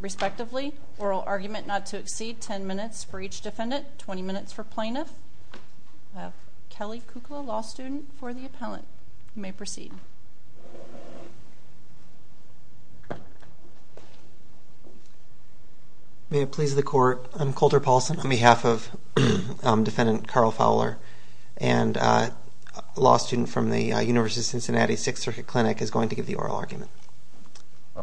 respectively. Oral argument not to exceed 10 minutes for each defendant 20 minutes for plaintiff. We have Kelly Kukla, law student, for the appellant. You may proceed. May it please the court, I'm Coulter Paulson. I'm a law student. I'm a law student. On behalf of defendant Carl Fowler and a law student from the University of Cincinnati Sixth Circuit Clinic is going to give the oral argument. Good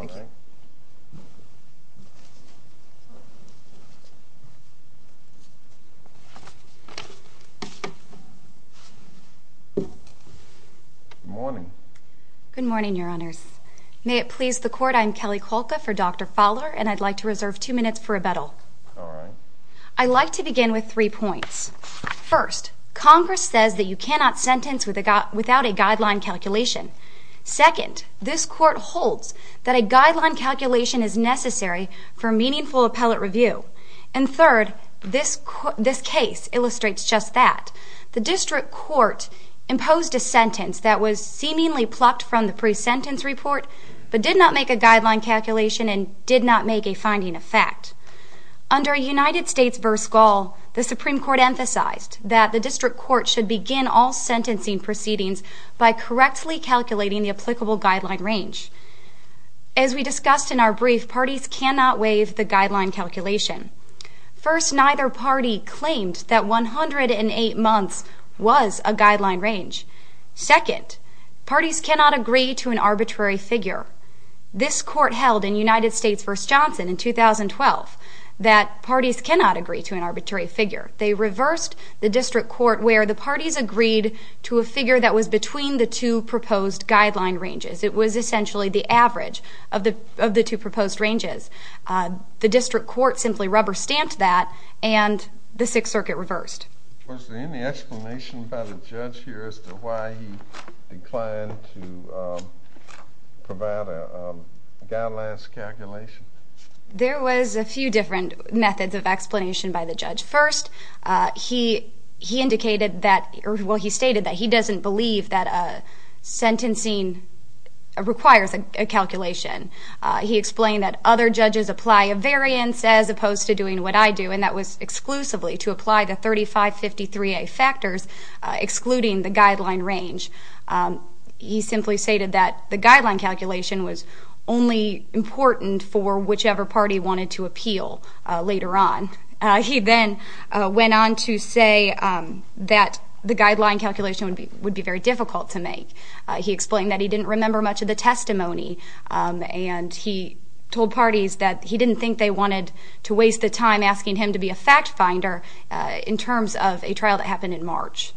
morning. Good morning, your honors. May it please the court, I'm Kelly Kulka for Dr. Fowler and I'd like to reserve two minutes for rebuttal. I'd like to begin with three points. First, Congress says that you cannot sentence without a guideline calculation. Second, this court holds that a guideline calculation is necessary for meaningful appellate review. And third, this case illustrates just that. The district court imposed a sentence that was seemingly plucked from the pre-sentence report, but did not make a guideline calculation and did not make a finding of fact. Under a United States v. Gall, the Supreme Court emphasized that the district court should begin all sentencing proceedings by correctly calculating the applicable guideline range. As we discussed in our brief, parties cannot waive the guideline calculation. First, neither party claimed that 108 months was a guideline range. Second, parties cannot agree to an arbitrary figure. This court held in United States v. Johnson in 2012 that parties cannot agree to an arbitrary figure. They reversed the district court where the parties agreed to a figure that was between the two proposed guideline ranges. It was essentially the average of the two proposed ranges. The district court simply rubber-stamped that and the Sixth Circuit reversed. Was there any explanation by the judge here as to why he declined to provide a guideline calculation? There was a few different methods of explanation by the judge. First, he stated that he doesn't believe that sentencing requires a calculation. He explained that other judges apply a variance as opposed to doing what I do, and that was exclusively to apply the 3553A factors excluding the guideline range. He simply stated that the guideline calculation was only important for whichever party wanted to appeal later on. He then went on to say that the guideline calculation would be very difficult to make. He explained that he didn't remember much of the testimony, and he told parties that he didn't think they wanted to waste the time asking him to be a fact finder in terms of a trial that happened in March.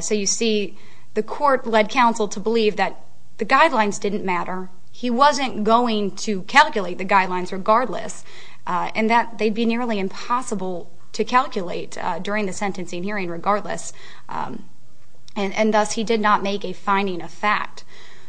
So you see, the court led counsel to believe that the guidelines didn't matter, he wasn't going to calculate the guidelines regardless, and that they'd be nearly impossible to calculate during the sentencing hearing regardless, and thus he did not make a finding of fact.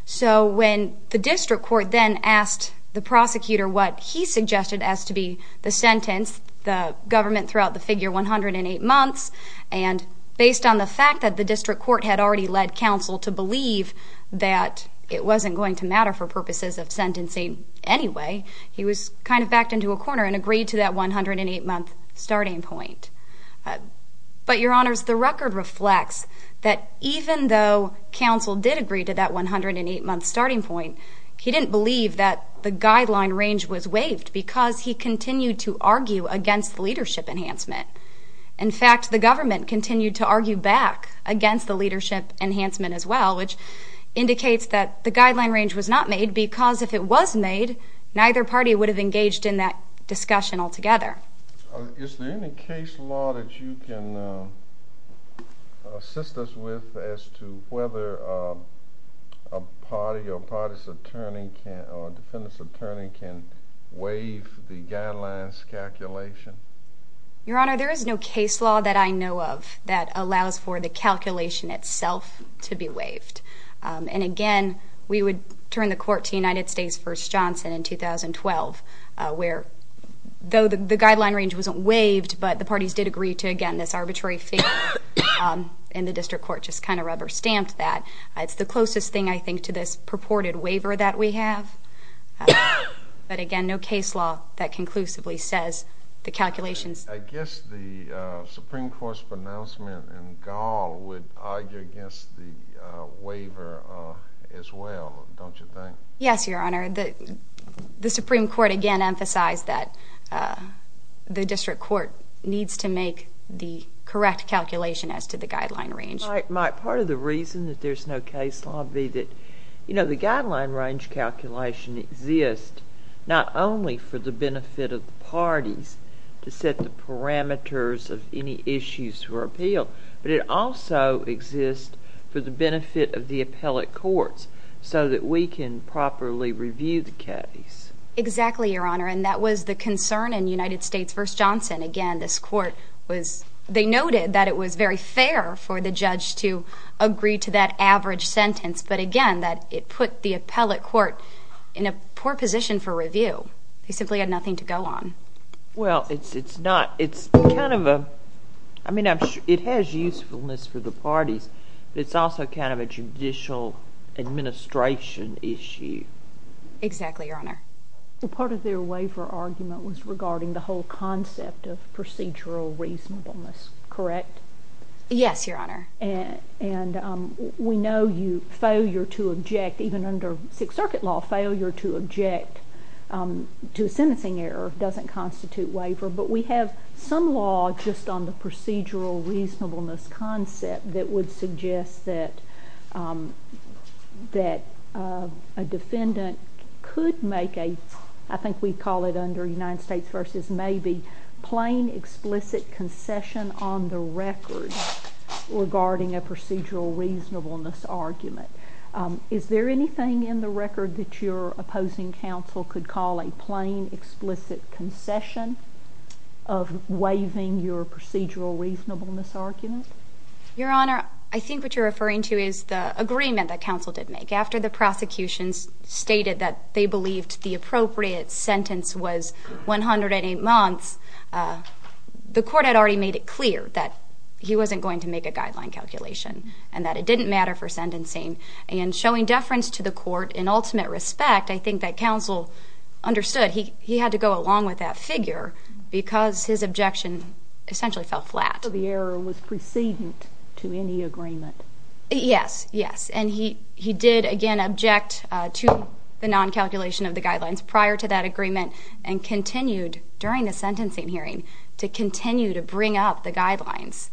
So when the district court then asked the prosecutor what he suggested as to be the sentence, the government threw out the figure 108 months, and based on the fact that the district court had already led counsel to believe that it wasn't going to matter for purposes of sentencing anyway, he was kind of backed into a corner and agreed to that 108 month starting point. But your honors, the record reflects that even though counsel did agree to that 108 month starting point, he didn't believe that the guideline range was waived because he continued to argue against leadership enhancement. In fact, the government continued to argue back against the leadership enhancement as well, which indicates that the guideline range was not made because if it was made, neither party would have engaged in that discussion altogether. Is there any case law that you can assist us with as to whether a party or a party's attorney or a defendant's attorney can waive the guidelines calculation? Your honor, there is no case law that I know of that allows for the calculation itself to be waived. And again, we would turn the court to United States v. Johnson in 2012, where though the guideline range wasn't waived, but the parties did agree to, again, this arbitrary figure, and the district court just kind of rubber stamped that. It's the closest thing, I think, to this purported waiver that we have. But again, no case law that conclusively says the calculations. I guess the Supreme Court's pronouncement in Gall would argue against the waiver as well, don't you think? Yes, your honor. The Supreme Court, again, emphasized that the district court needs to make the correct calculation as to the guideline range. Mike, part of the reason that there's no case law would be that, you know, the guideline range calculation exists not only for the benefit of the parties to set the parameters of any issues for appeal, but it also exists for the benefit of the appellate courts so that we can properly review the case. Exactly, your honor, and that was the concern in United States v. Johnson. Again, this court was, they noted that it was very fair for the judge to agree to that average sentence, but again, that it put the appellate court in a poor position for review. They simply had nothing to go on. Well, it's not, it's kind of a, I mean, it has usefulness for the parties, but it's also kind of a judicial administration issue. Exactly, your honor. Part of their waiver argument was regarding the whole concept of procedural reasonableness, correct? Yes, your honor. And we know you, failure to object, even under Sixth Circuit law, failure to object to a sentencing error doesn't constitute waiver, but we have some law just on the procedural reasonableness concept that would suggest that a defendant could make a, I think we call it under United States v. Maybe, a plain explicit concession on the record regarding a procedural reasonableness argument. Is there anything in the record that your opposing counsel could call a plain explicit concession of waiving your procedural reasonableness argument? Your honor, I think what you're referring to is the agreement that counsel did make. After the prosecution stated that they believed the appropriate sentence was 108 months, the court had already made it clear that he wasn't going to make a guideline calculation and that it didn't matter for sentencing, and showing deference to the court in ultimate respect, I think that counsel understood he had to go along with that figure because his objection essentially fell flat. So the error was precedent to any agreement? Yes, yes, and he did again object to the non-calculation of the guidelines prior to that agreement and continued during the sentencing hearing to continue to bring up the guidelines.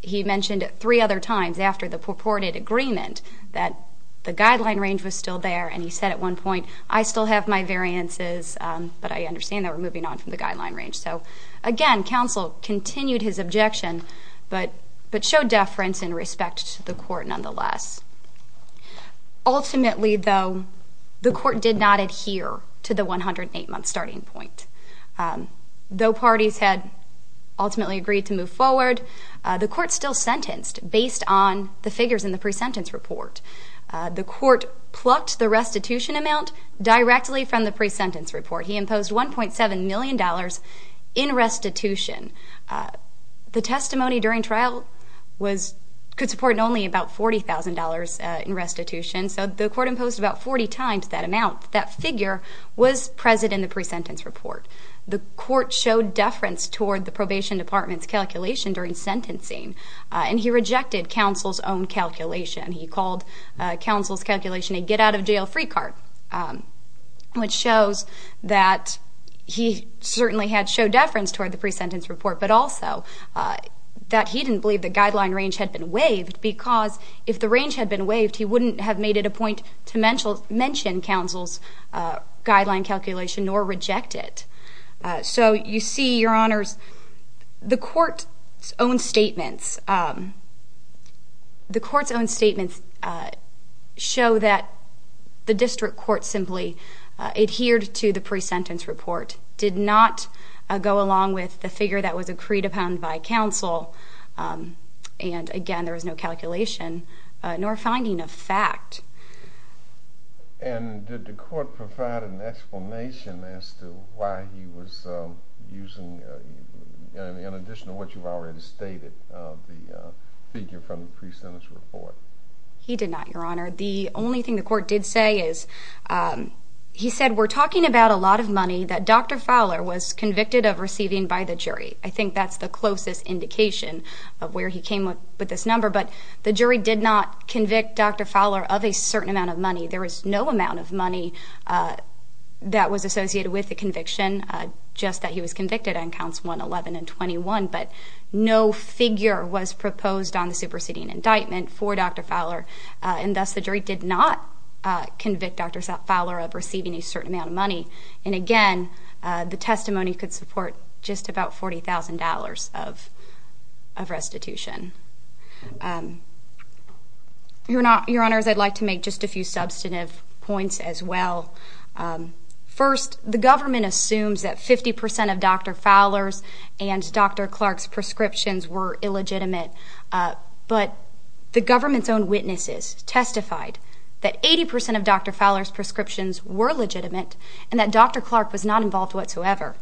He mentioned three other times after the purported agreement that the guideline range was still there and he said at one point, I still have my variances, but I understand that we're moving on from the guideline range. So again, counsel continued his objection but showed deference in respect to the court nonetheless. Ultimately, though, the court did not adhere to the 108-month starting point. Though parties had ultimately agreed to move forward, the court still sentenced based on the figures in the pre-sentence report. The court plucked the restitution amount directly from the pre-sentence report. He imposed $1.7 million in restitution. The testimony during trial could support only about $40,000 in restitution, so the court imposed about 40 times that amount. That figure was present in the pre-sentence report. The court showed deference toward the probation department's calculation during sentencing, and he rejected counsel's own calculation. He called counsel's calculation a get-out-of-jail-free card, which shows that he certainly had showed deference toward the pre-sentence report but also that he didn't believe the guideline range had been waived because if the range had been waived, he wouldn't have made it a point to mention counsel's guideline calculation nor reject it. So you see, Your Honors, the court's own statements show that the district court simply adhered to the pre-sentence report, did not go along with the figure that was agreed upon by counsel, and, again, there was no calculation nor finding of fact. And did the court provide an explanation as to why he was using, in addition to what you've already stated, the figure from the pre-sentence report? He did not, Your Honor. The only thing the court did say is he said, we're talking about a lot of money that Dr. Fowler was convicted of receiving by the jury. I think that's the closest indication of where he came with this number, but the jury did not convict Dr. Fowler of a certain amount of money. There was no amount of money that was associated with the conviction, just that he was convicted on counts 111 and 21, but no figure was proposed on the superseding indictment for Dr. Fowler, and thus the jury did not convict Dr. Fowler of receiving a certain amount of money. And, again, the testimony could support just about $40,000 of restitution. Your Honors, I'd like to make just a few substantive points as well. First, the government assumes that 50% of Dr. Fowler's and Dr. Clark's prescriptions were illegitimate, but the government's own witnesses testified that 80% of Dr. Fowler's prescriptions were legitimate and that Dr. Clark was not involved whatsoever.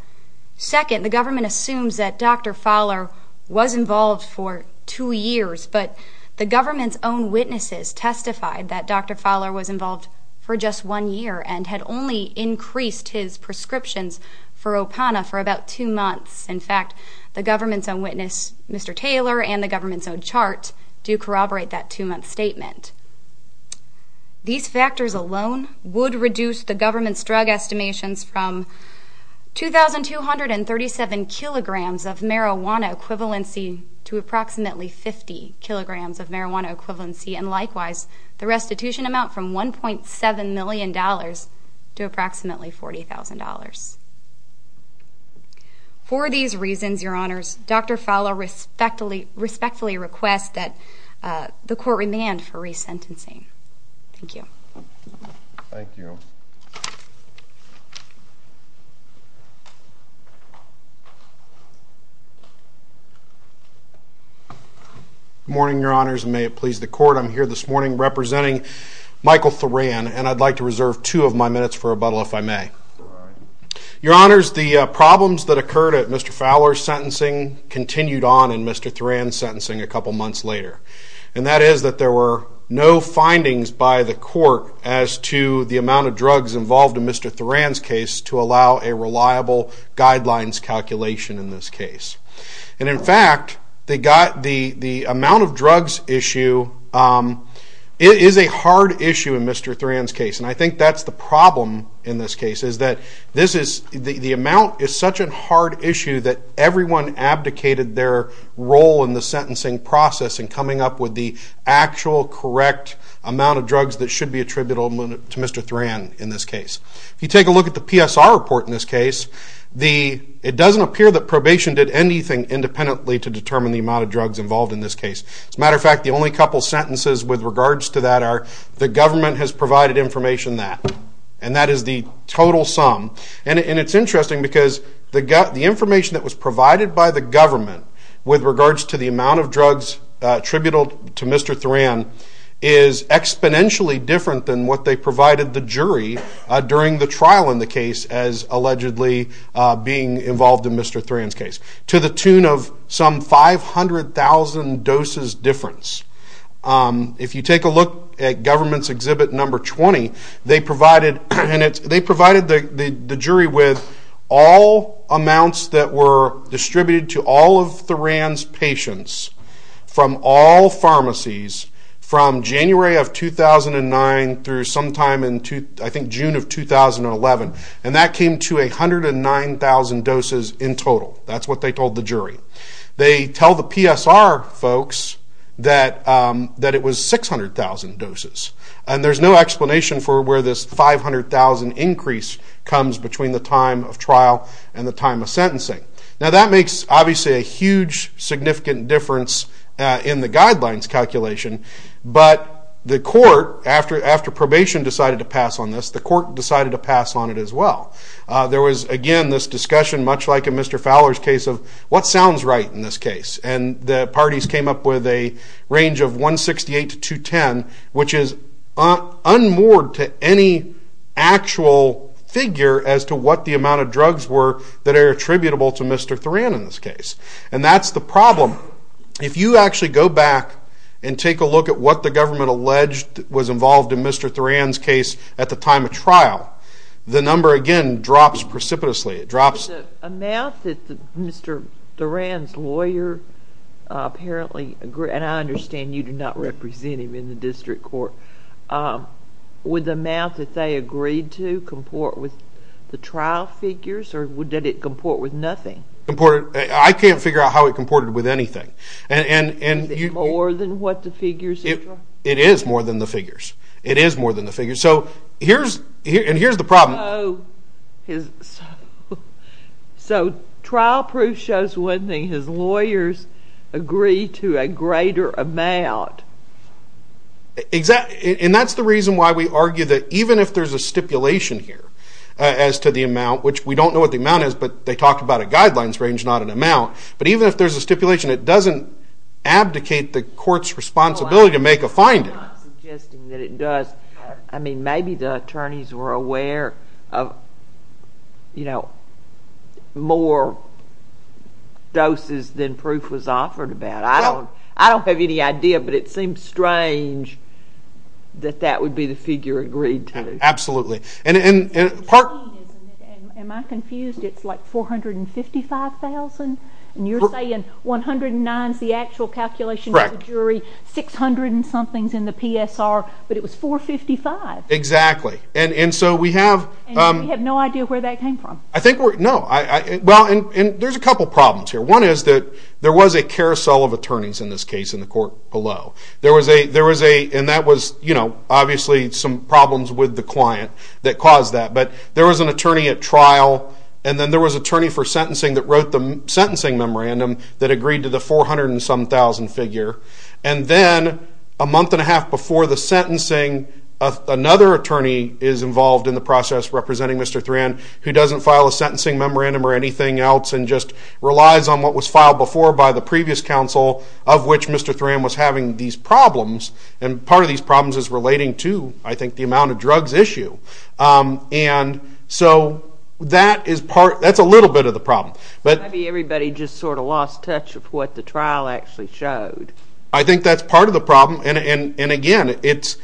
Second, the government assumes that Dr. Fowler was involved for two years, but the government's own witnesses testified that Dr. Fowler was involved for just one year and had only increased his prescriptions for Opana for about two months. In fact, the government's own witness, Mr. Taylor, and the government's own chart do corroborate that two-month statement. These factors alone would reduce the government's drug estimations from 2,237 kilograms of marijuana equivalency to approximately 50 kilograms of marijuana equivalency, and likewise the restitution amount from $1.7 million to approximately $40,000. For these reasons, Your Honors, Dr. Fowler respectfully requests that the court remand for resentencing. Thank you. Thank you. Good morning, Your Honors, and may it please the Court. I'm here this morning representing Michael Thoran, and I'd like to reserve two of my minutes for rebuttal if I may. Your Honors, the problems that occurred at Mr. Fowler's sentencing continued on in Mr. Thoran's sentencing a couple months later, and that is that there were no findings by the court as to the amount of drugs involved in Mr. Thoran's case to allow a reliable guidelines calculation in this case. In fact, the amount of drugs issue is a hard issue in Mr. Thoran's case, and I think that's the problem in this case is that the amount is such a hard issue that everyone abdicated their role in the sentencing process in coming up with the actual correct amount of drugs that should be attributable to Mr. Thoran in this case. If you take a look at the PSR report in this case, it doesn't appear that probation did anything independently to determine the amount of drugs involved in this case. As a matter of fact, the only couple sentences with regards to that are the government has provided information that, and that is the total sum. And it's interesting because the information that was provided by the government with regards to the amount of drugs attributable to Mr. Thoran is exponentially different than what they provided the jury during the trial in the case as allegedly being involved in Mr. Thoran's case, to the tune of some 500,000 doses difference. If you take a look at government's exhibit number 20, they provided the jury with all amounts that were distributed to all of Thoran's patients from all pharmacies from January of 2009 through sometime in June of 2011, and that came to 109,000 doses in total. That's what they told the jury. They tell the PSR folks that it was 600,000 doses, and there's no explanation for where this 500,000 increase comes between the time of trial and the time of sentencing. Now that makes, obviously, a huge significant difference in the guidelines calculation, but the court, after probation decided to pass on this, the court decided to pass on it as well. There was, again, this discussion much like in Mr. Fowler's case of what sounds right in this case, and the parties came up with a range of 168 to 210, which is unmoored to any actual figure as to what the amount of drugs were that are attributable to Mr. Thoran in this case, and that's the problem. If you actually go back and take a look at what the government alleged was involved in Mr. Thoran's case at the time of trial, the number, again, drops precipitously. It drops. The amount that Mr. Thoran's lawyer apparently agreed, and I understand you do not represent him in the district court, would the amount that they agreed to comport with the trial figures, or did it comport with nothing? I can't figure out how it comported with anything. More than what the figures? It is more than the figures. It is more than the figures. And here's the problem. So trial proof shows one thing, his lawyers agree to a greater amount. And that's the reason why we argue that even if there's a stipulation here as to the amount, which we don't know what the amount is, but they talk about a guidelines range, not an amount, but even if there's a stipulation, it doesn't abdicate the court's responsibility to make a finding. I'm not suggesting that it does. I mean, maybe the attorneys were aware of more doses than proof was offered about. I don't have any idea, but it seems strange that that would be the figure agreed to. Am I confused? It's like $455,000? And you're saying 109 is the actual calculation of the jury, 600-and-somethings in the PSR, but it was $455,000? Exactly. And we have no idea where that came from? No. Well, there's a couple problems here. One is that there was a carousel of attorneys in this case in the court below. And that was obviously some problems with the client that caused that. But there was an attorney at trial, and then there was an attorney for sentencing that wrote the sentencing memorandum that agreed to the 400-and-some-thousand figure. And then a month and a half before the sentencing, another attorney is involved in the process representing Mr. Thran, who doesn't file a sentencing memorandum or anything else and just relies on what was filed before by the previous counsel, of which Mr. Thran was having these problems. And part of these problems is relating to, I think, the amount of drugs issue. And so that's a little bit of the problem. Maybe everybody just sort of lost touch of what the trial actually showed. I think that's part of the problem. And, again, it's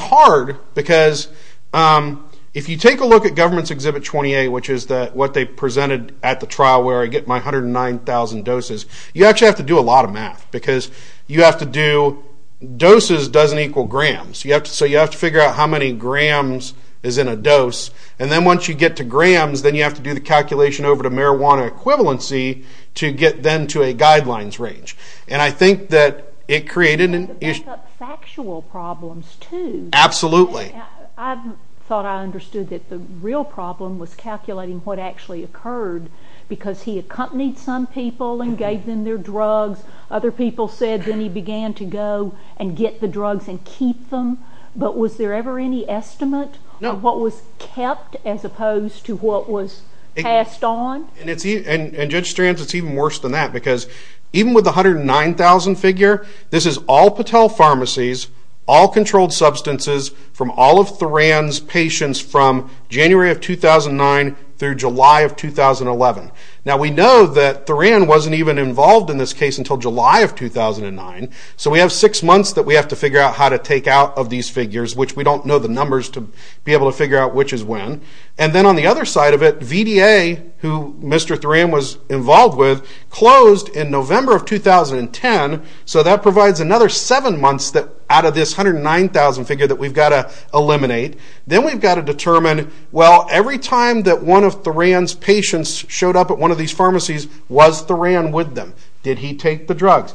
hard because if you take a look at Government's Exhibit 28, which is what they presented at the trial where I get my 109,000 doses, you actually have to do a lot of math because you have to do doses doesn't equal grams. So you have to figure out how many grams is in a dose. And then once you get to grams, then you have to do the calculation over to marijuana equivalency to get then to a guidelines range. And I think that it created an issue. Back up factual problems, too. Absolutely. I thought I understood that the real problem was calculating what actually occurred because he accompanied some people and gave them their drugs. Other people said then he began to go and get the drugs and keep them. But was there ever any estimate of what was kept as opposed to what was passed on? And, Judge Strands, it's even worse than that because even with the 109,000 figure, this is all Patel pharmacies, all controlled substances from all of Theran's patients from January of 2009 through July of 2011. Now, we know that Theran wasn't even involved in this case until July of 2009. So we have six months that we have to figure out how to take out of these figures, which we don't know the numbers to be able to figure out which is when. And then on the other side of it, VDA, who Mr. Theran was involved with, closed in November of 2010. So that provides another seven months out of this 109,000 figure that we've got to eliminate. Then we've got to determine, well, every time that one of Theran's patients showed up at one of these pharmacies, was Theran with them? Did he take the drugs?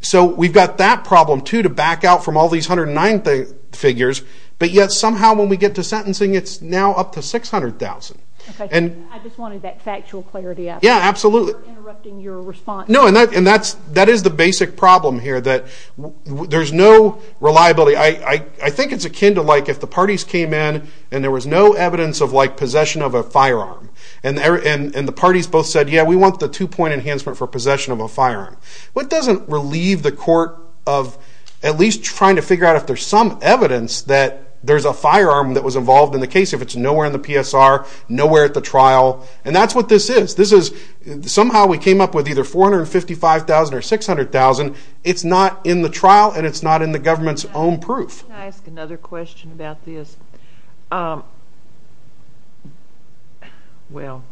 So we've got that problem, too, to back out from all these 109 figures. But yet somehow when we get to sentencing, it's now up to 600,000. I just wanted that factual clarity. Yeah, absolutely. I'm interrupting your response. No, and that is the basic problem here, that there's no reliability. I think it's akin to like if the parties came in and there was no evidence of possession of a firearm. And the parties both said, yeah, we want the two-point enhancement for possession of a firearm. But it doesn't relieve the court of at least trying to figure out if there's some evidence that there's a firearm that was involved in the case, if it's nowhere in the PSR, nowhere at the trial. And that's what this is. Somehow we came up with either 455,000 or 600,000. It's not in the trial, and it's not in the government's own proof. Can I ask another question about this? Well,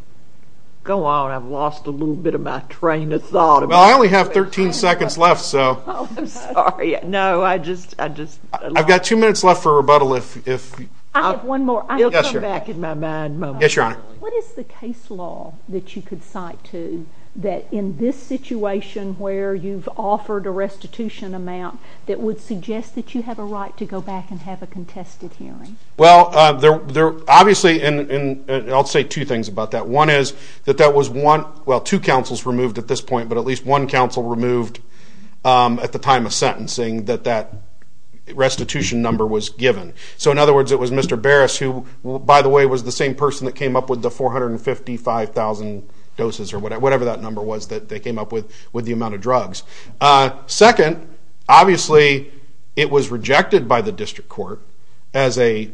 go on. I've lost a little bit of my train of thought. Well, I only have 13 seconds left. Oh, I'm sorry. No, I just lost. I've got two minutes left for rebuttal. I have one more. Yes, Your Honor. It'll come back in my mind momentarily. Yes, Your Honor. What is the case law that you could cite to that in this situation where you've offered a restitution amount that would suggest that you have a right to go back and have a contested hearing? Well, obviously, and I'll say two things about that. One is that that was one – well, two counsels removed at this point, but at least one counsel removed at the time of sentencing that that restitution number was given. So, in other words, it was Mr. Barris who, by the way, was the same person that came up with the 455,000 doses or whatever that number was that they came up with with the amount of drugs. Second, obviously, it was rejected by the district court as a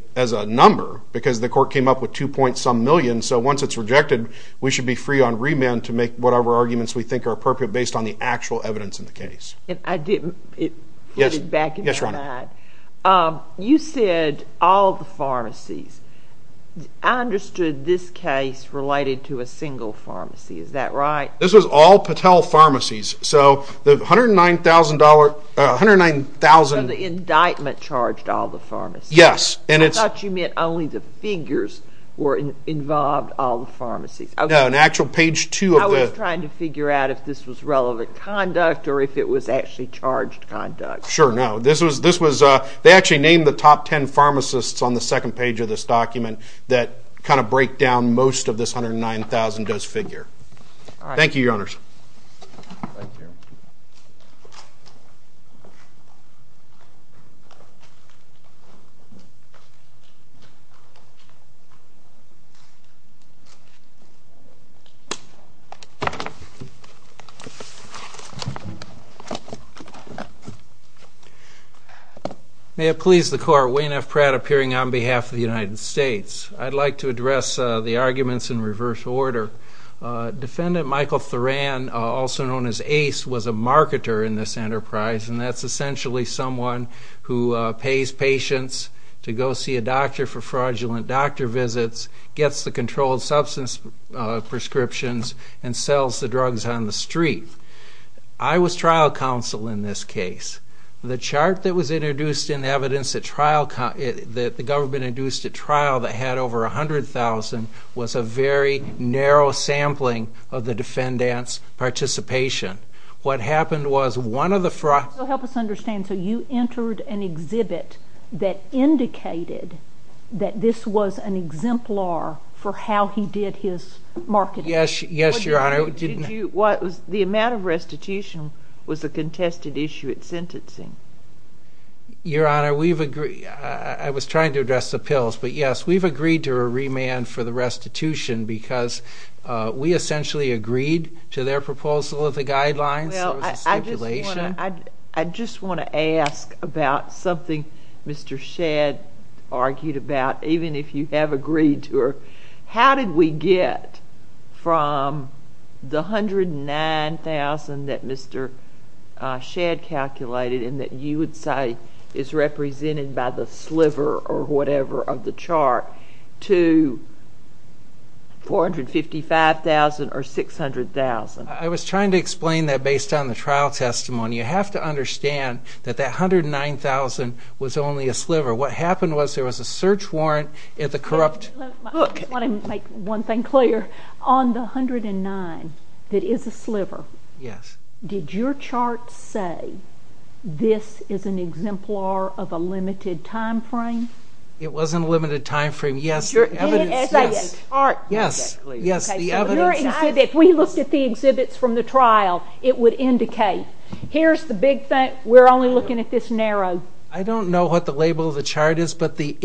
number because the court came up with two-point-some million. So, once it's rejected, we should be free on remand to make whatever arguments we think are appropriate based on the actual evidence in the case. And I didn't – it flitted back and forth. Yes, Your Honor. You said all the pharmacies. I understood this case related to a single pharmacy. Is that right? This was all Patel Pharmacies. So, the $109,000 – So, the indictment charged all the pharmacies. Yes, and it's – I thought you meant only the figures involved all the pharmacies. No, in actual page 2 of the – I was trying to figure out if this was relevant conduct or if it was actually charged conduct. Sure, no. This was – they actually named the top ten pharmacists on the second page of this document that kind of break down most of this 109,000-dose figure. Thank you, Your Honors. Thank you. Thank you. May it please the Court, Wayne F. Pratt appearing on behalf of the United States. I'd like to address the arguments in reverse order. Defendant Michael Tharan, also known as Ace, was a marketer in this enterprise, and that's essentially someone who pays patients to go see a doctor for fraudulent doctor visits, gets the controlled substance prescriptions, and sells the drugs on the street. I was trial counsel in this case. The chart that was introduced in evidence at trial – that the government introduced at trial that had over 100,000 was a very narrow sampling of the defendant's participation. What happened was one of the fraud – Help us understand. So you entered an exhibit that indicated that this was an exemplar for how he did his marketing? Yes, Your Honor. Did you – the amount of restitution was a contested issue at sentencing. Your Honor, we've – I was trying to address the pills. But, yes, we've agreed to a remand for the restitution because we essentially agreed to their proposal of the guidelines. There was a stipulation. Well, I just want to ask about something Mr. Shadd argued about, even if you have agreed to her. How did we get from the 109,000 that Mr. Shadd calculated and that you would say is represented by the sliver or whatever of the chart to 455,000 or 600,000? I was trying to explain that based on the trial testimony. You have to understand that that 109,000 was only a sliver. What happened was there was a search warrant at the corrupt – I just want to make one thing clear. On the 109 that is a sliver – Yes. Did your chart say this is an exemplar of a limited time frame? It was in a limited time frame. Yes. As a chart? Yes. Yes, the evidence – If we looked at the exhibits from the trial, it would indicate. Here's the big thing. We're only looking at this narrow. I don't know what the label of the chart is, but the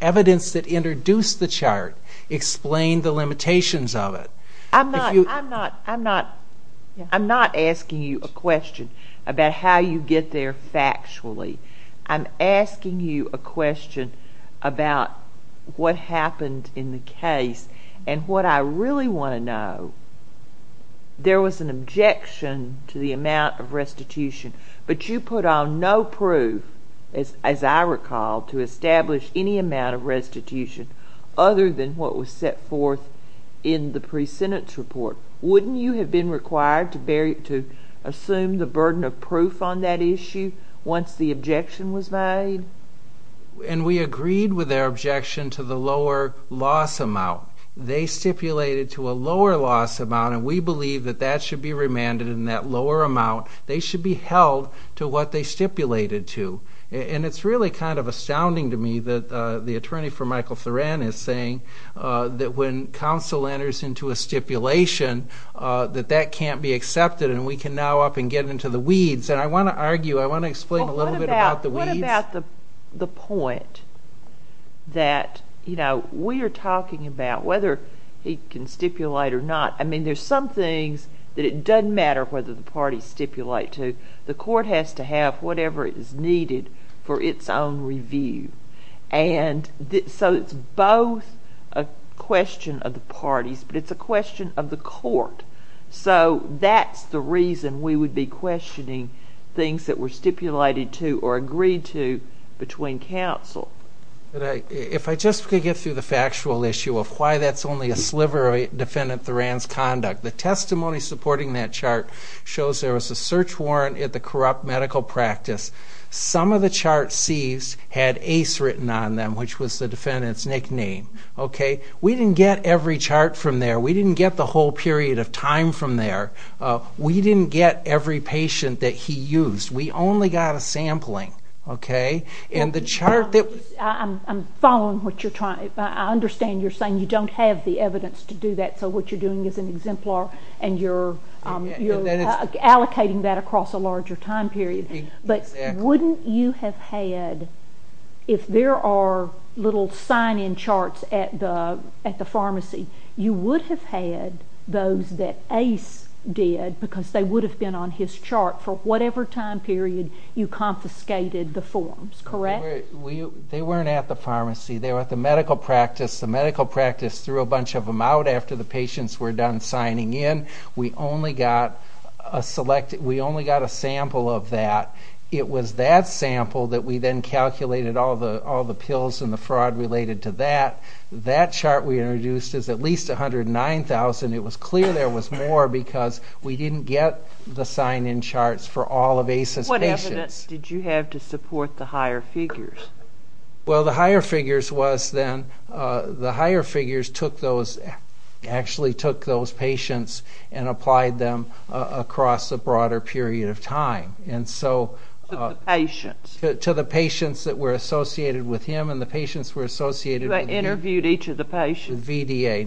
evidence that introduced the chart explained the limitations of it. I'm not asking you a question about how you get there factually. I'm asking you a question about what happened in the case and what I really want to know. There was an objection to the amount of restitution, but you put on no proof, as I recall, to establish any amount of restitution other than what was set forth in the pre-sentence report. Wouldn't you have been required to assume the burden of proof on that issue once the objection was made? And we agreed with their objection to the lower loss amount. They stipulated to a lower loss amount, and we believe that that should be remanded, and that lower amount, they should be held to what they stipulated to. And it's really kind of astounding to me that the attorney for Michael Thoran is saying that when counsel enters into a stipulation that that can't be accepted and we can now up and get into the weeds. And I want to argue, I want to explain a little bit about the weeds. What about the point that we are talking about whether he can stipulate or not? I mean, there's some things that it doesn't matter whether the parties stipulate to. The court has to have whatever is needed for its own review. And so it's both a question of the parties, but it's a question of the court. So that's the reason we would be questioning things that were stipulated to or agreed to between counsel. If I just could get through the factual issue of why that's only a sliver of Defendant Thoran's conduct. The testimony supporting that chart shows there was a search warrant at the corrupt medical practice. Some of the charts seized had Ace written on them, which was the Defendant's nickname. We didn't get every chart from there. We didn't get the whole period of time from there. We didn't get every patient that he used. We only got a sampling. I'm following what you're trying to say. I understand you're saying you don't have the evidence to do that, so what you're doing is an exemplar, and you're allocating that across a larger time period. But wouldn't you have had, if there are little sign-in charts at the pharmacy, you would have had those that Ace did because they would have been on his chart for whatever time period you confiscated the forms, correct? They weren't at the pharmacy. They were at the medical practice. The medical practice threw a bunch of them out after the patients were done signing in. We only got a sample of that. It was that sample that we then calculated all the pills and the fraud related to that. That chart we introduced is at least 109,000. It was clear there was more because we didn't get the sign-in charts for all of Ace's patients. What evidence did you have to support the higher figures? Well, the higher figures was then, the higher figures actually took those patients and applied them across a broader period of time. To the patients? To the patients that were associated with him and the patients that were associated with VDA. You interviewed each of the patients?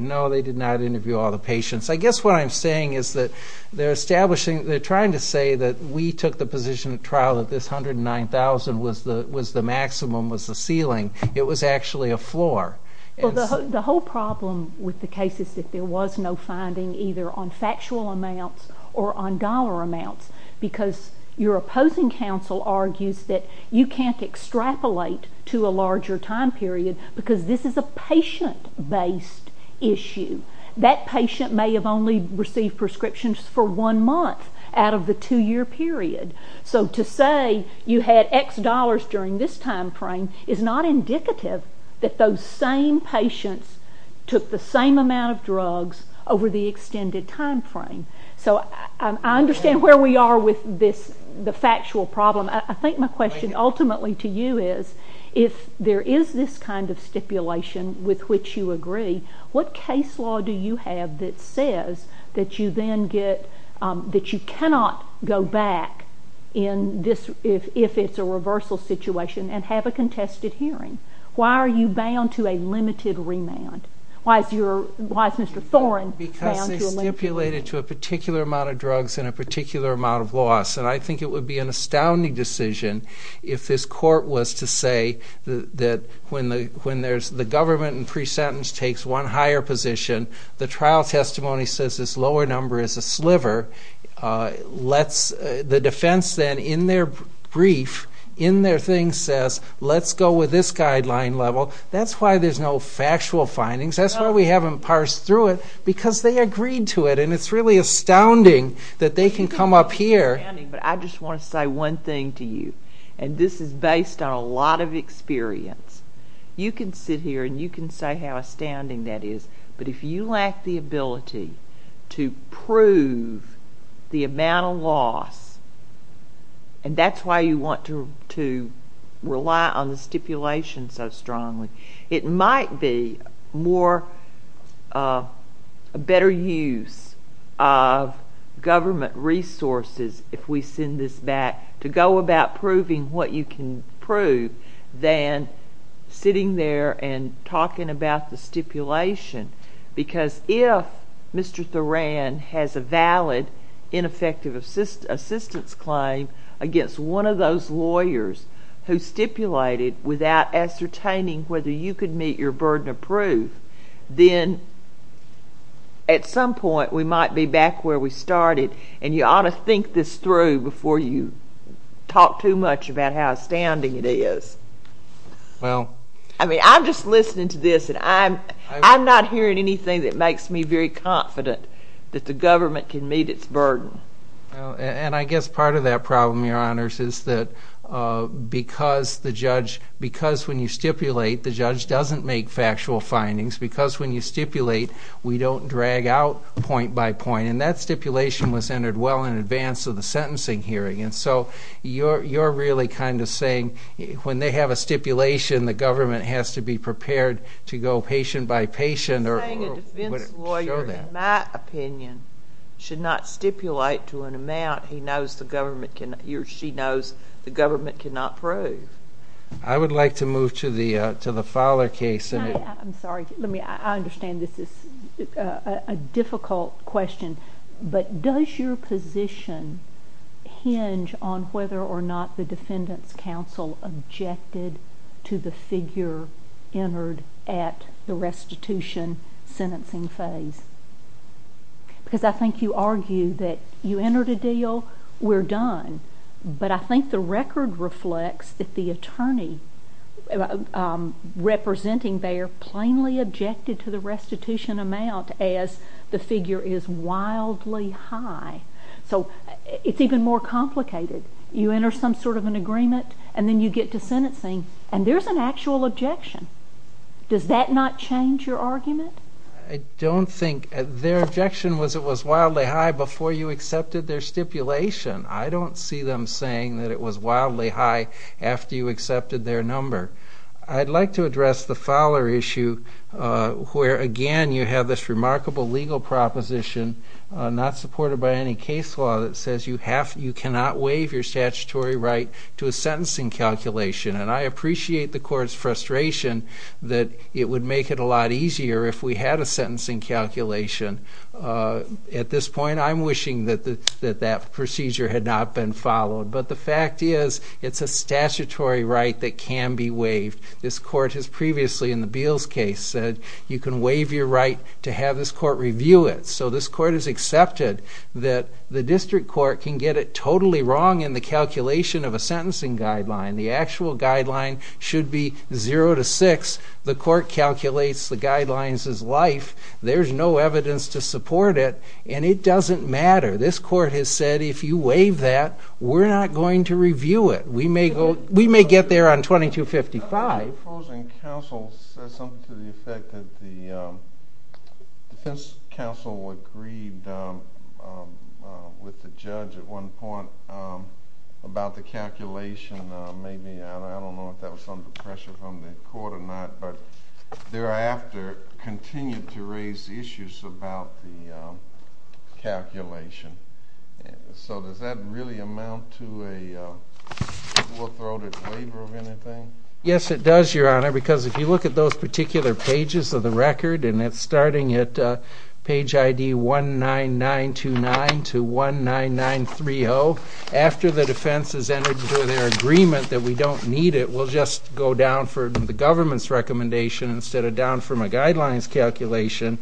No, they did not interview all the patients. I guess what I'm saying is that they're establishing, they're trying to say that we took the position at trial that this 109,000 was the maximum, was the ceiling. It was actually a floor. Well, the whole problem with the case is that there was no finding either on factual amounts or on dollar amounts because your opposing counsel argues that you can't extrapolate to a larger time period because this is a patient-based issue. That patient may have only received prescriptions for one month out of the two-year period. So to say you had X dollars during this time frame is not indicative that those same patients took the same amount of drugs over the extended time frame. So I understand where we are with this, the factual problem. I think my question ultimately to you is if there is this kind of stipulation with which you agree, what case law do you have that says that you cannot go back if it's a reversal situation and have a contested hearing? Why are you bound to a limited remand? Why is Mr. Thorne bound to a limited remand? Because they stipulated to a particular amount of drugs and a particular amount of loss, and I think it would be an astounding decision if this court was to say that when the government in pre-sentence takes one higher position, the trial testimony says this lower number is a sliver. The defense then, in their brief, in their thing, says, let's go with this guideline level. That's why there's no factual findings. That's why we haven't parsed through it, because they agreed to it, and it's really astounding that they can come up here. But I just want to say one thing to you, and this is based on a lot of experience. You can sit here and you can say how astounding that is, but if you lack the ability to prove the amount of loss, and that's why you want to rely on the stipulation so strongly, it might be a better use of government resources, if we send this back, to go about proving what you can prove than sitting there and talking about the stipulation, because if Mr. Thuran has a valid ineffective assistance claim against one of those lawyers who stipulated without ascertaining whether you could meet your burden of proof, then at some point we might be back where we started, and you ought to think this through before you talk too much about how astounding it is. I'm just listening to this, and I'm not hearing anything that makes me very confident that the government can meet its burden. And I guess part of that problem, Your Honors, is that because when you stipulate, the judge doesn't make factual findings, because when you stipulate we don't drag out point by point, and that stipulation was entered well in advance of the sentencing hearing, and so you're really kind of saying when they have a stipulation the government has to be prepared to go patient by patient. I'm saying a defense lawyer, in my opinion, should not stipulate to an amount he knows the government cannot prove. I would like to move to the Fowler case. I'm sorry. I understand this is a difficult question, but does your position hinge on whether or not the Defendant's Counsel objected to the figure entered at the restitution sentencing phase? Because I think you argue that you entered a deal, we're done, but I think the record reflects that the attorney representing there plainly objected to the restitution amount as the figure is wildly high. So it's even more complicated. You enter some sort of an agreement, and then you get to sentencing, and there's an actual objection. Does that not change your argument? I don't think. Their objection was it was wildly high before you accepted their stipulation. I don't see them saying that it was wildly high after you accepted their number. I'd like to address the Fowler issue, where, again, you have this remarkable legal proposition, not supported by any case law, that says you cannot waive your statutory right to a sentencing calculation. And I appreciate the Court's frustration that it would make it a lot easier if we had a sentencing calculation. At this point, I'm wishing that that procedure had not been followed. But the fact is it's a statutory right that can be waived. This Court has previously, in the Beals case, said you can waive your right to have this Court review it. So this Court has accepted that the district court can get it totally wrong in the calculation of a sentencing guideline. The actual guideline should be 0 to 6. The Court calculates the guidelines as life. There's no evidence to support it, and it doesn't matter. This Court has said if you waive that, we're not going to review it. We may get there on 2255. The opposing counsel said something to the effect that the defense counsel agreed with the judge at one point about the calculation. I don't know if that was under pressure from the Court or not, but thereafter continued to raise issues about the calculation. So does that really amount to a full-throated waiver of anything? Yes, it does, Your Honor, because if you look at those particular pages of the record, and it's starting at page ID 19929 to 19930, after the defense has entered into their agreement that we don't need it, we'll just go down from the government's recommendation instead of down from a guidelines calculation,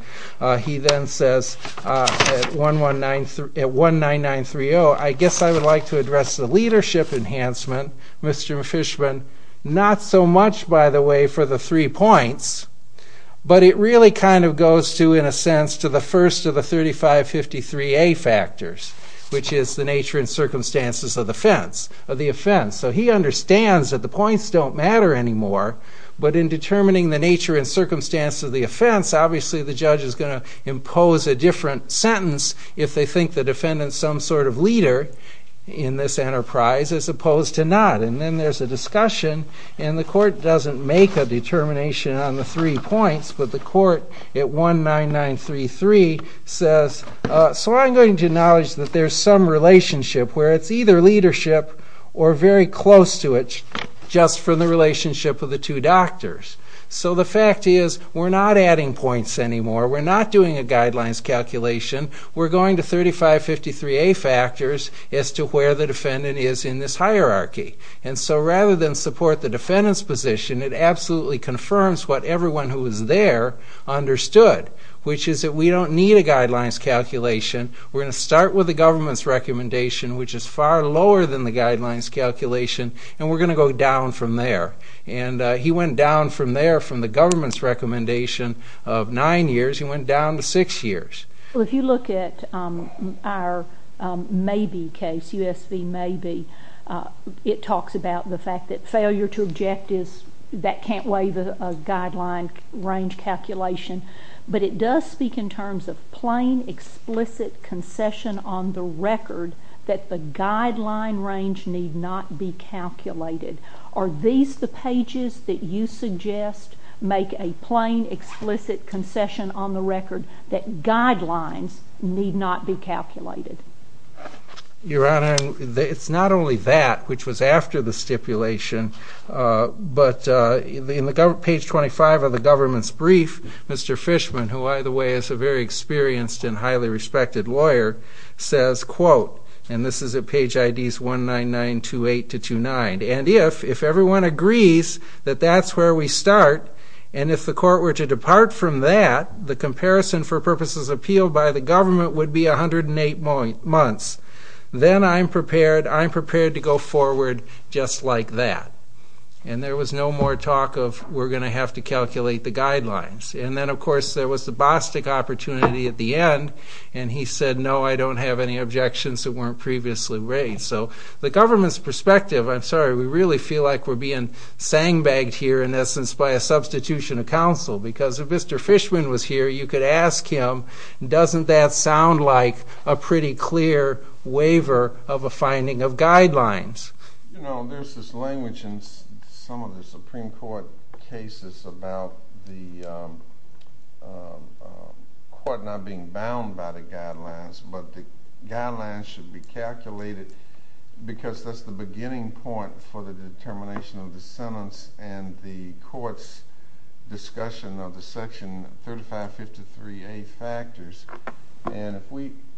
he then says at 19930, I guess I would like to address the leadership enhancement, Mr. Fishman, not so much, by the way, for the three points, but it really kind of goes to, in a sense, to the first of the 3553A factors, which is the nature and circumstances of the offense. So he understands that the points don't matter anymore, but in determining the nature and circumstances of the offense, obviously the judge is going to impose a different sentence if they think the defendant is some sort of leader in this enterprise as opposed to not. And then there's a discussion, and the Court doesn't make a determination on the three points, but the Court at 19933 says, so I'm going to acknowledge that there's some relationship where it's either leadership or very close to it just from the relationship of the two doctors. So the fact is we're not adding points anymore, we're not doing a guidelines calculation, we're going to 3553A factors as to where the defendant is in this hierarchy. And so rather than support the defendant's position, it absolutely confirms what everyone who was there understood, which is that we don't need a guidelines calculation, we're going to start with the government's recommendation, which is far lower than the guidelines calculation, and we're going to go down from there. And he went down from there, from the government's recommendation of nine years, he went down to six years. Well, if you look at our MAYBE case, USV MAYBE, it talks about the fact that failure to objectives, that can't weigh the guideline range calculation, but it does speak in terms of plain, explicit concession on the record that the guideline range need not be calculated. Are these the pages that you suggest make a plain, explicit concession on the record that guidelines need not be calculated? Your Honor, it's not only that, which was after the stipulation, but in page 25 of the government's brief, Mr. Fishman, who either way is a very experienced and highly respected lawyer, says, and this is at page IDs 19928-29, and if everyone agrees that that's where we start, and if the court were to depart from that, the comparison for purposes appealed by the government would be 108 months, then I'm prepared to go forward just like that. And there was no more talk of, we're going to have to calculate the guidelines. And then, of course, there was the Bostic opportunity at the end, and he said, no, I don't have any objections that weren't previously raised. So the government's perspective, I'm sorry, we really feel like we're being sang-bagged here, in essence, by a substitution of counsel, because if Mr. Fishman was here, you could ask him, doesn't that sound like a pretty clear waiver of a finding of guidelines? You know, there's this language in some of the Supreme Court cases about the court not being bound by the guidelines, but the guidelines should be calculated because that's the beginning point for the determination of the sentence and the court's discussion of the Section 3553A factors. And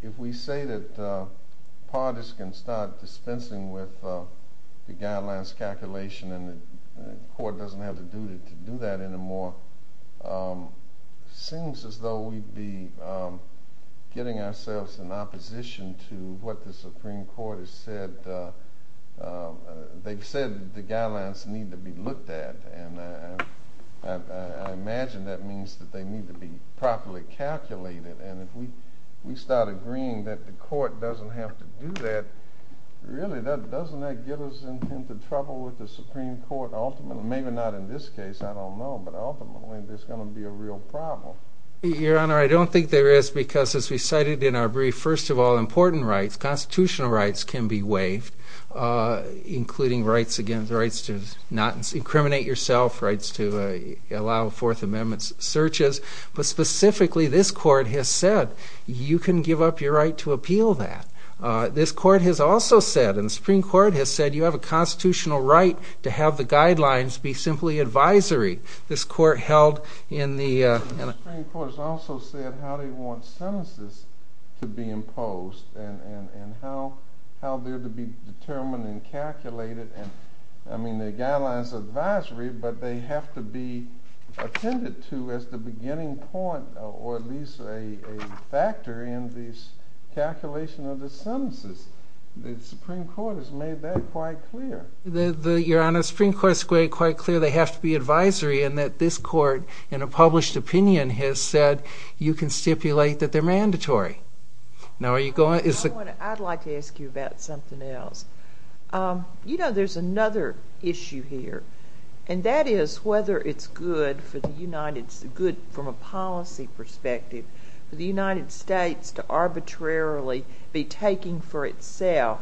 if we say that parties can start dispensing with the guidelines calculation and the court doesn't have the duty to do that anymore, it seems as though we'd be getting ourselves in opposition to what the Supreme Court has said. They've said the guidelines need to be looked at, and I imagine that means that they need to be properly calculated. And if we start agreeing that the court doesn't have to do that, really, doesn't that get us into trouble with the Supreme Court ultimately? Maybe not in this case, I don't know, but ultimately there's going to be a real problem. Your Honor, I don't think there is because, as we cited in our brief, including rights against, rights to not incriminate yourself, rights to allow Fourth Amendment searches, but specifically this court has said you can give up your right to appeal that. This court has also said, and the Supreme Court has said, you have a constitutional right to have the guidelines be simply advisory. This court held in the... The Supreme Court has also said how they want sentences to be imposed and how they're to be determined and calculated. I mean, the guidelines are advisory, but they have to be attended to as the beginning point or at least a factor in this calculation of the sentences. The Supreme Court has made that quite clear. Your Honor, the Supreme Court has made it quite clear they have to be advisory and that this court, in a published opinion, has said you can stipulate that they're mandatory. Now, are you going... I'd like to ask you about something else. You know, there's another issue here, and that is whether it's good from a policy perspective for the United States to arbitrarily be taking for itself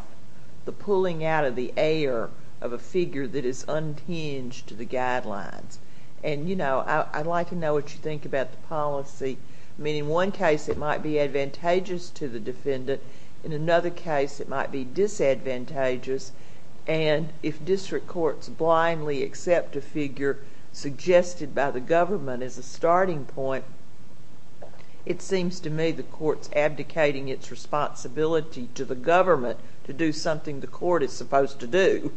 the pulling out of the air of a figure that is unhinged to the guidelines. And, you know, I'd like to know what you think about the policy. I mean, in one case, it might be advantageous to the defendant. In another case, it might be disadvantageous. And if district courts blindly accept a figure suggested by the government as a starting point, it seems to me the court's abdicating its responsibility to the government to do something the court is supposed to do.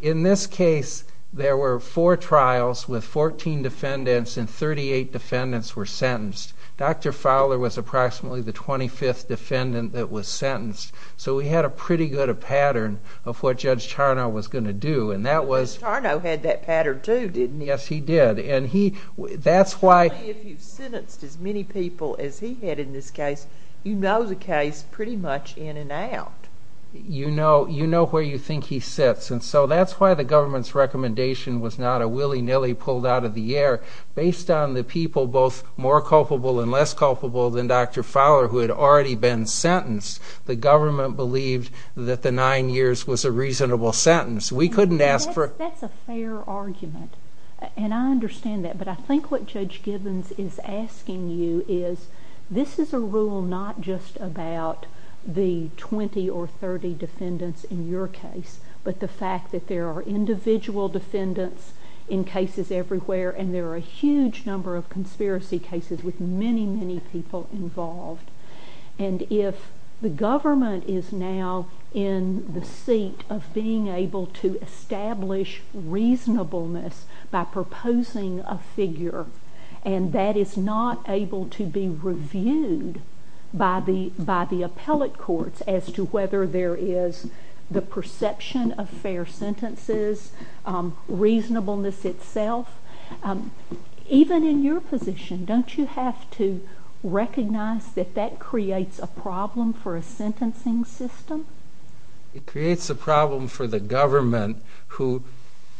In this case, there were four trials with 14 defendants, and 38 defendants were sentenced. Dr. Fowler was approximately the 25th defendant that was sentenced. So we had a pretty good pattern of what Judge Tarnow was going to do, and that was... But Judge Tarnow had that pattern too, didn't he? Yes, he did. And that's why... If you've sentenced as many people as he had in this case, you know the case pretty much in and out. You know where you think he sits. And so that's why the government's recommendation was not a willy-nilly pulled out of the air. Based on the people both more culpable and less culpable than Dr. Fowler, who had already been sentenced, the government believed that the nine years was a reasonable sentence. We couldn't ask for... That's a fair argument, and I understand that. But I think what Judge Gibbons is asking you is, this is a rule not just about the 20 or 30 defendants in your case, but the fact that there are individual defendants in cases everywhere and there are a huge number of conspiracy cases with many, many people involved. And if the government is now in the seat of being able to establish reasonableness by proposing a figure, and that is not able to be reviewed by the appellate courts as to whether there is the perception of fair sentences, reasonableness itself, even in your position, don't you have to recognize that that creates a problem for a sentencing system? It creates a problem for the government, who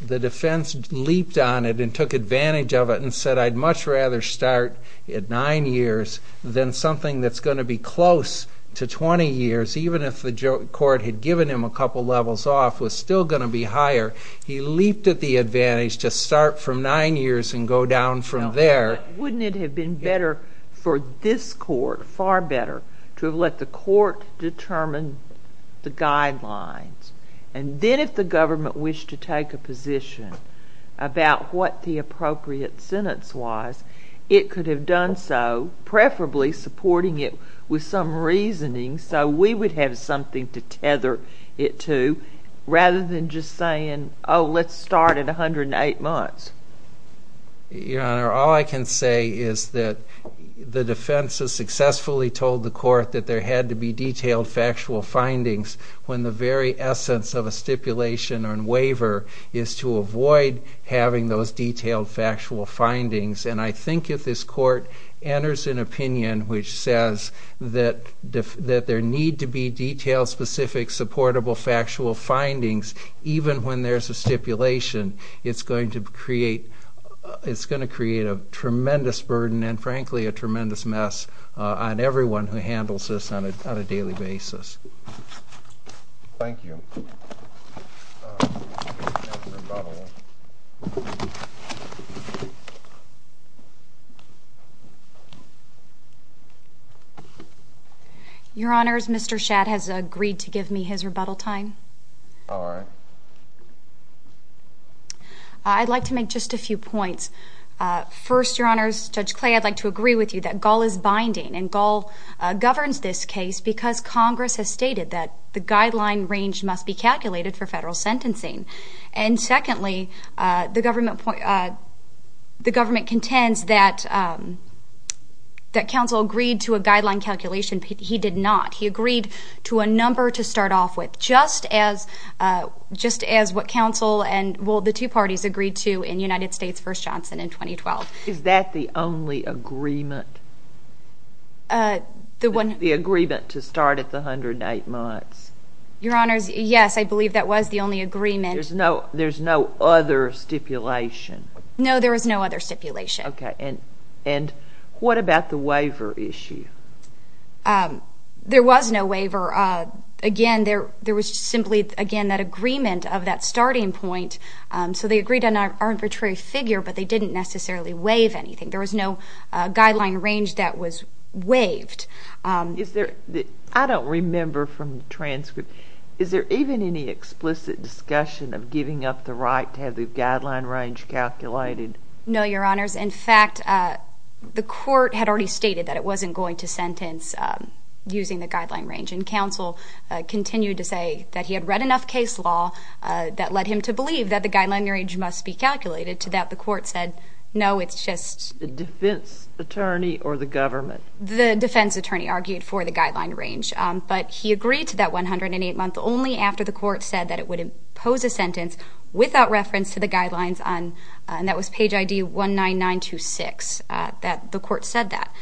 the defense leaped on it and took advantage of it and said, I'd much rather start at nine years than something that's going to be close to 20 years, even if the court had given him a couple levels off, was still going to be higher. He leaped at the advantage to start from nine years and go down from there. Wouldn't it have been better for this court, far better, to have let the court determine the guidelines? And then if the government wished to take a position about what the appropriate sentence was, it could have done so, preferably supporting it with some reasoning so we would have something to tether it to, rather than just saying, oh, let's start at 108 months. Your Honor, all I can say is that the defense has successfully told the court that there had to be detailed factual findings when the very essence of a stipulation on waiver is to avoid having those detailed factual findings. And I think if this court enters an opinion which says that there need to be detailed, specific, supportable factual findings even when there's a stipulation, it's going to create a tremendous burden and, frankly, a tremendous mess on everyone who handles this on a daily basis. Thank you. Rebuttal. Your Honors, Mr. Schatt has agreed to give me his rebuttal time. All right. I'd like to make just a few points. First, Your Honors, Judge Clay, I'd like to agree with you that Gall is binding, and Gall governs this case because Congress has stated that the guideline range must be calculated for federal sentencing. And secondly, the government contends that counsel agreed to a guideline calculation. He did not. He agreed to a number to start off with, just as what counsel and, well, the two parties agreed to in United States v. Johnson in 2012. Is that the only agreement? The one? The agreement to start at the 108 months. Your Honors, yes, I believe that was the only agreement. There's no other stipulation? No, there was no other stipulation. Okay. And what about the waiver issue? There was no waiver. Again, there was simply, again, that agreement of that starting point. So they agreed on an arbitrary figure, but they didn't necessarily waive anything. There was no guideline range that was waived. I don't remember from the transcript. Is there even any explicit discussion of giving up the right to have the guideline range calculated? No, Your Honors. In fact, the court had already stated that it wasn't going to sentence using the guideline range, and counsel continued to say that he had read enough case law that led him to believe that the guideline range must be calculated, to that the court said, no, it's just the defense attorney or the government. The defense attorney argued for the guideline range, but he agreed to that 108 months only after the court said that it would impose a sentence without reference to the guidelines on, and that was page ID 19926, that the court said that.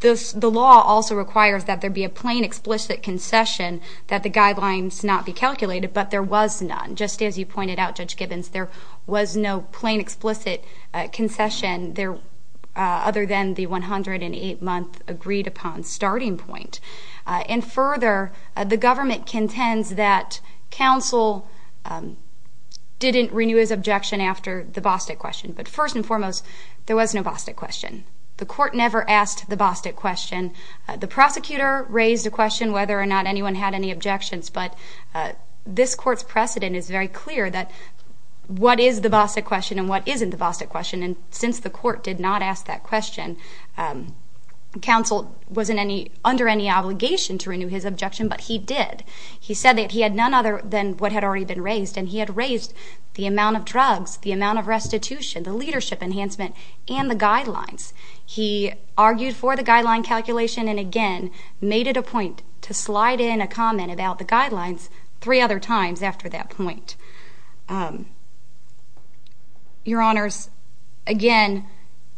The law also requires that there be a plain, explicit concession that the guidelines not be calculated, but there was none. Just as you pointed out, Judge Gibbons, there was no plain, explicit concession there other than the 108-month agreed-upon starting point. And further, the government contends that counsel didn't renew his objection after the Bostik question, but first and foremost, there was no Bostik question. The court never asked the Bostik question. The prosecutor raised a question whether or not anyone had any objections, but this court's precedent is very clear that what is the Bostik question and what isn't the Bostik question, and since the court did not ask that question, counsel wasn't under any obligation to renew his objection, but he did. He said that he had none other than what had already been raised, and he had raised the amount of drugs, the amount of restitution, the leadership enhancement, and the guidelines. He argued for the guideline calculation and, again, made it a point to slide in a comment about the guidelines three other times after that point. Your Honors, again,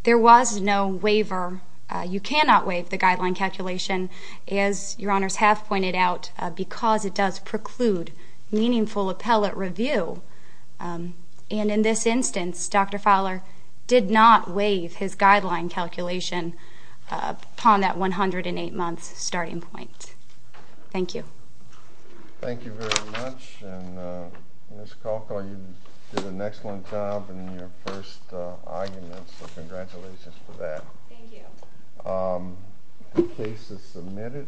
there was no waiver. You cannot waive the guideline calculation, as Your Honors have pointed out, because it does preclude meaningful appellate review. And in this instance, Dr. Fowler did not waive his guideline calculation upon that 108-month starting point. Thank you. Thank you very much, and Ms. Kalkau, you did an excellent job in your first argument, so congratulations for that. Thank you. The case is submitted.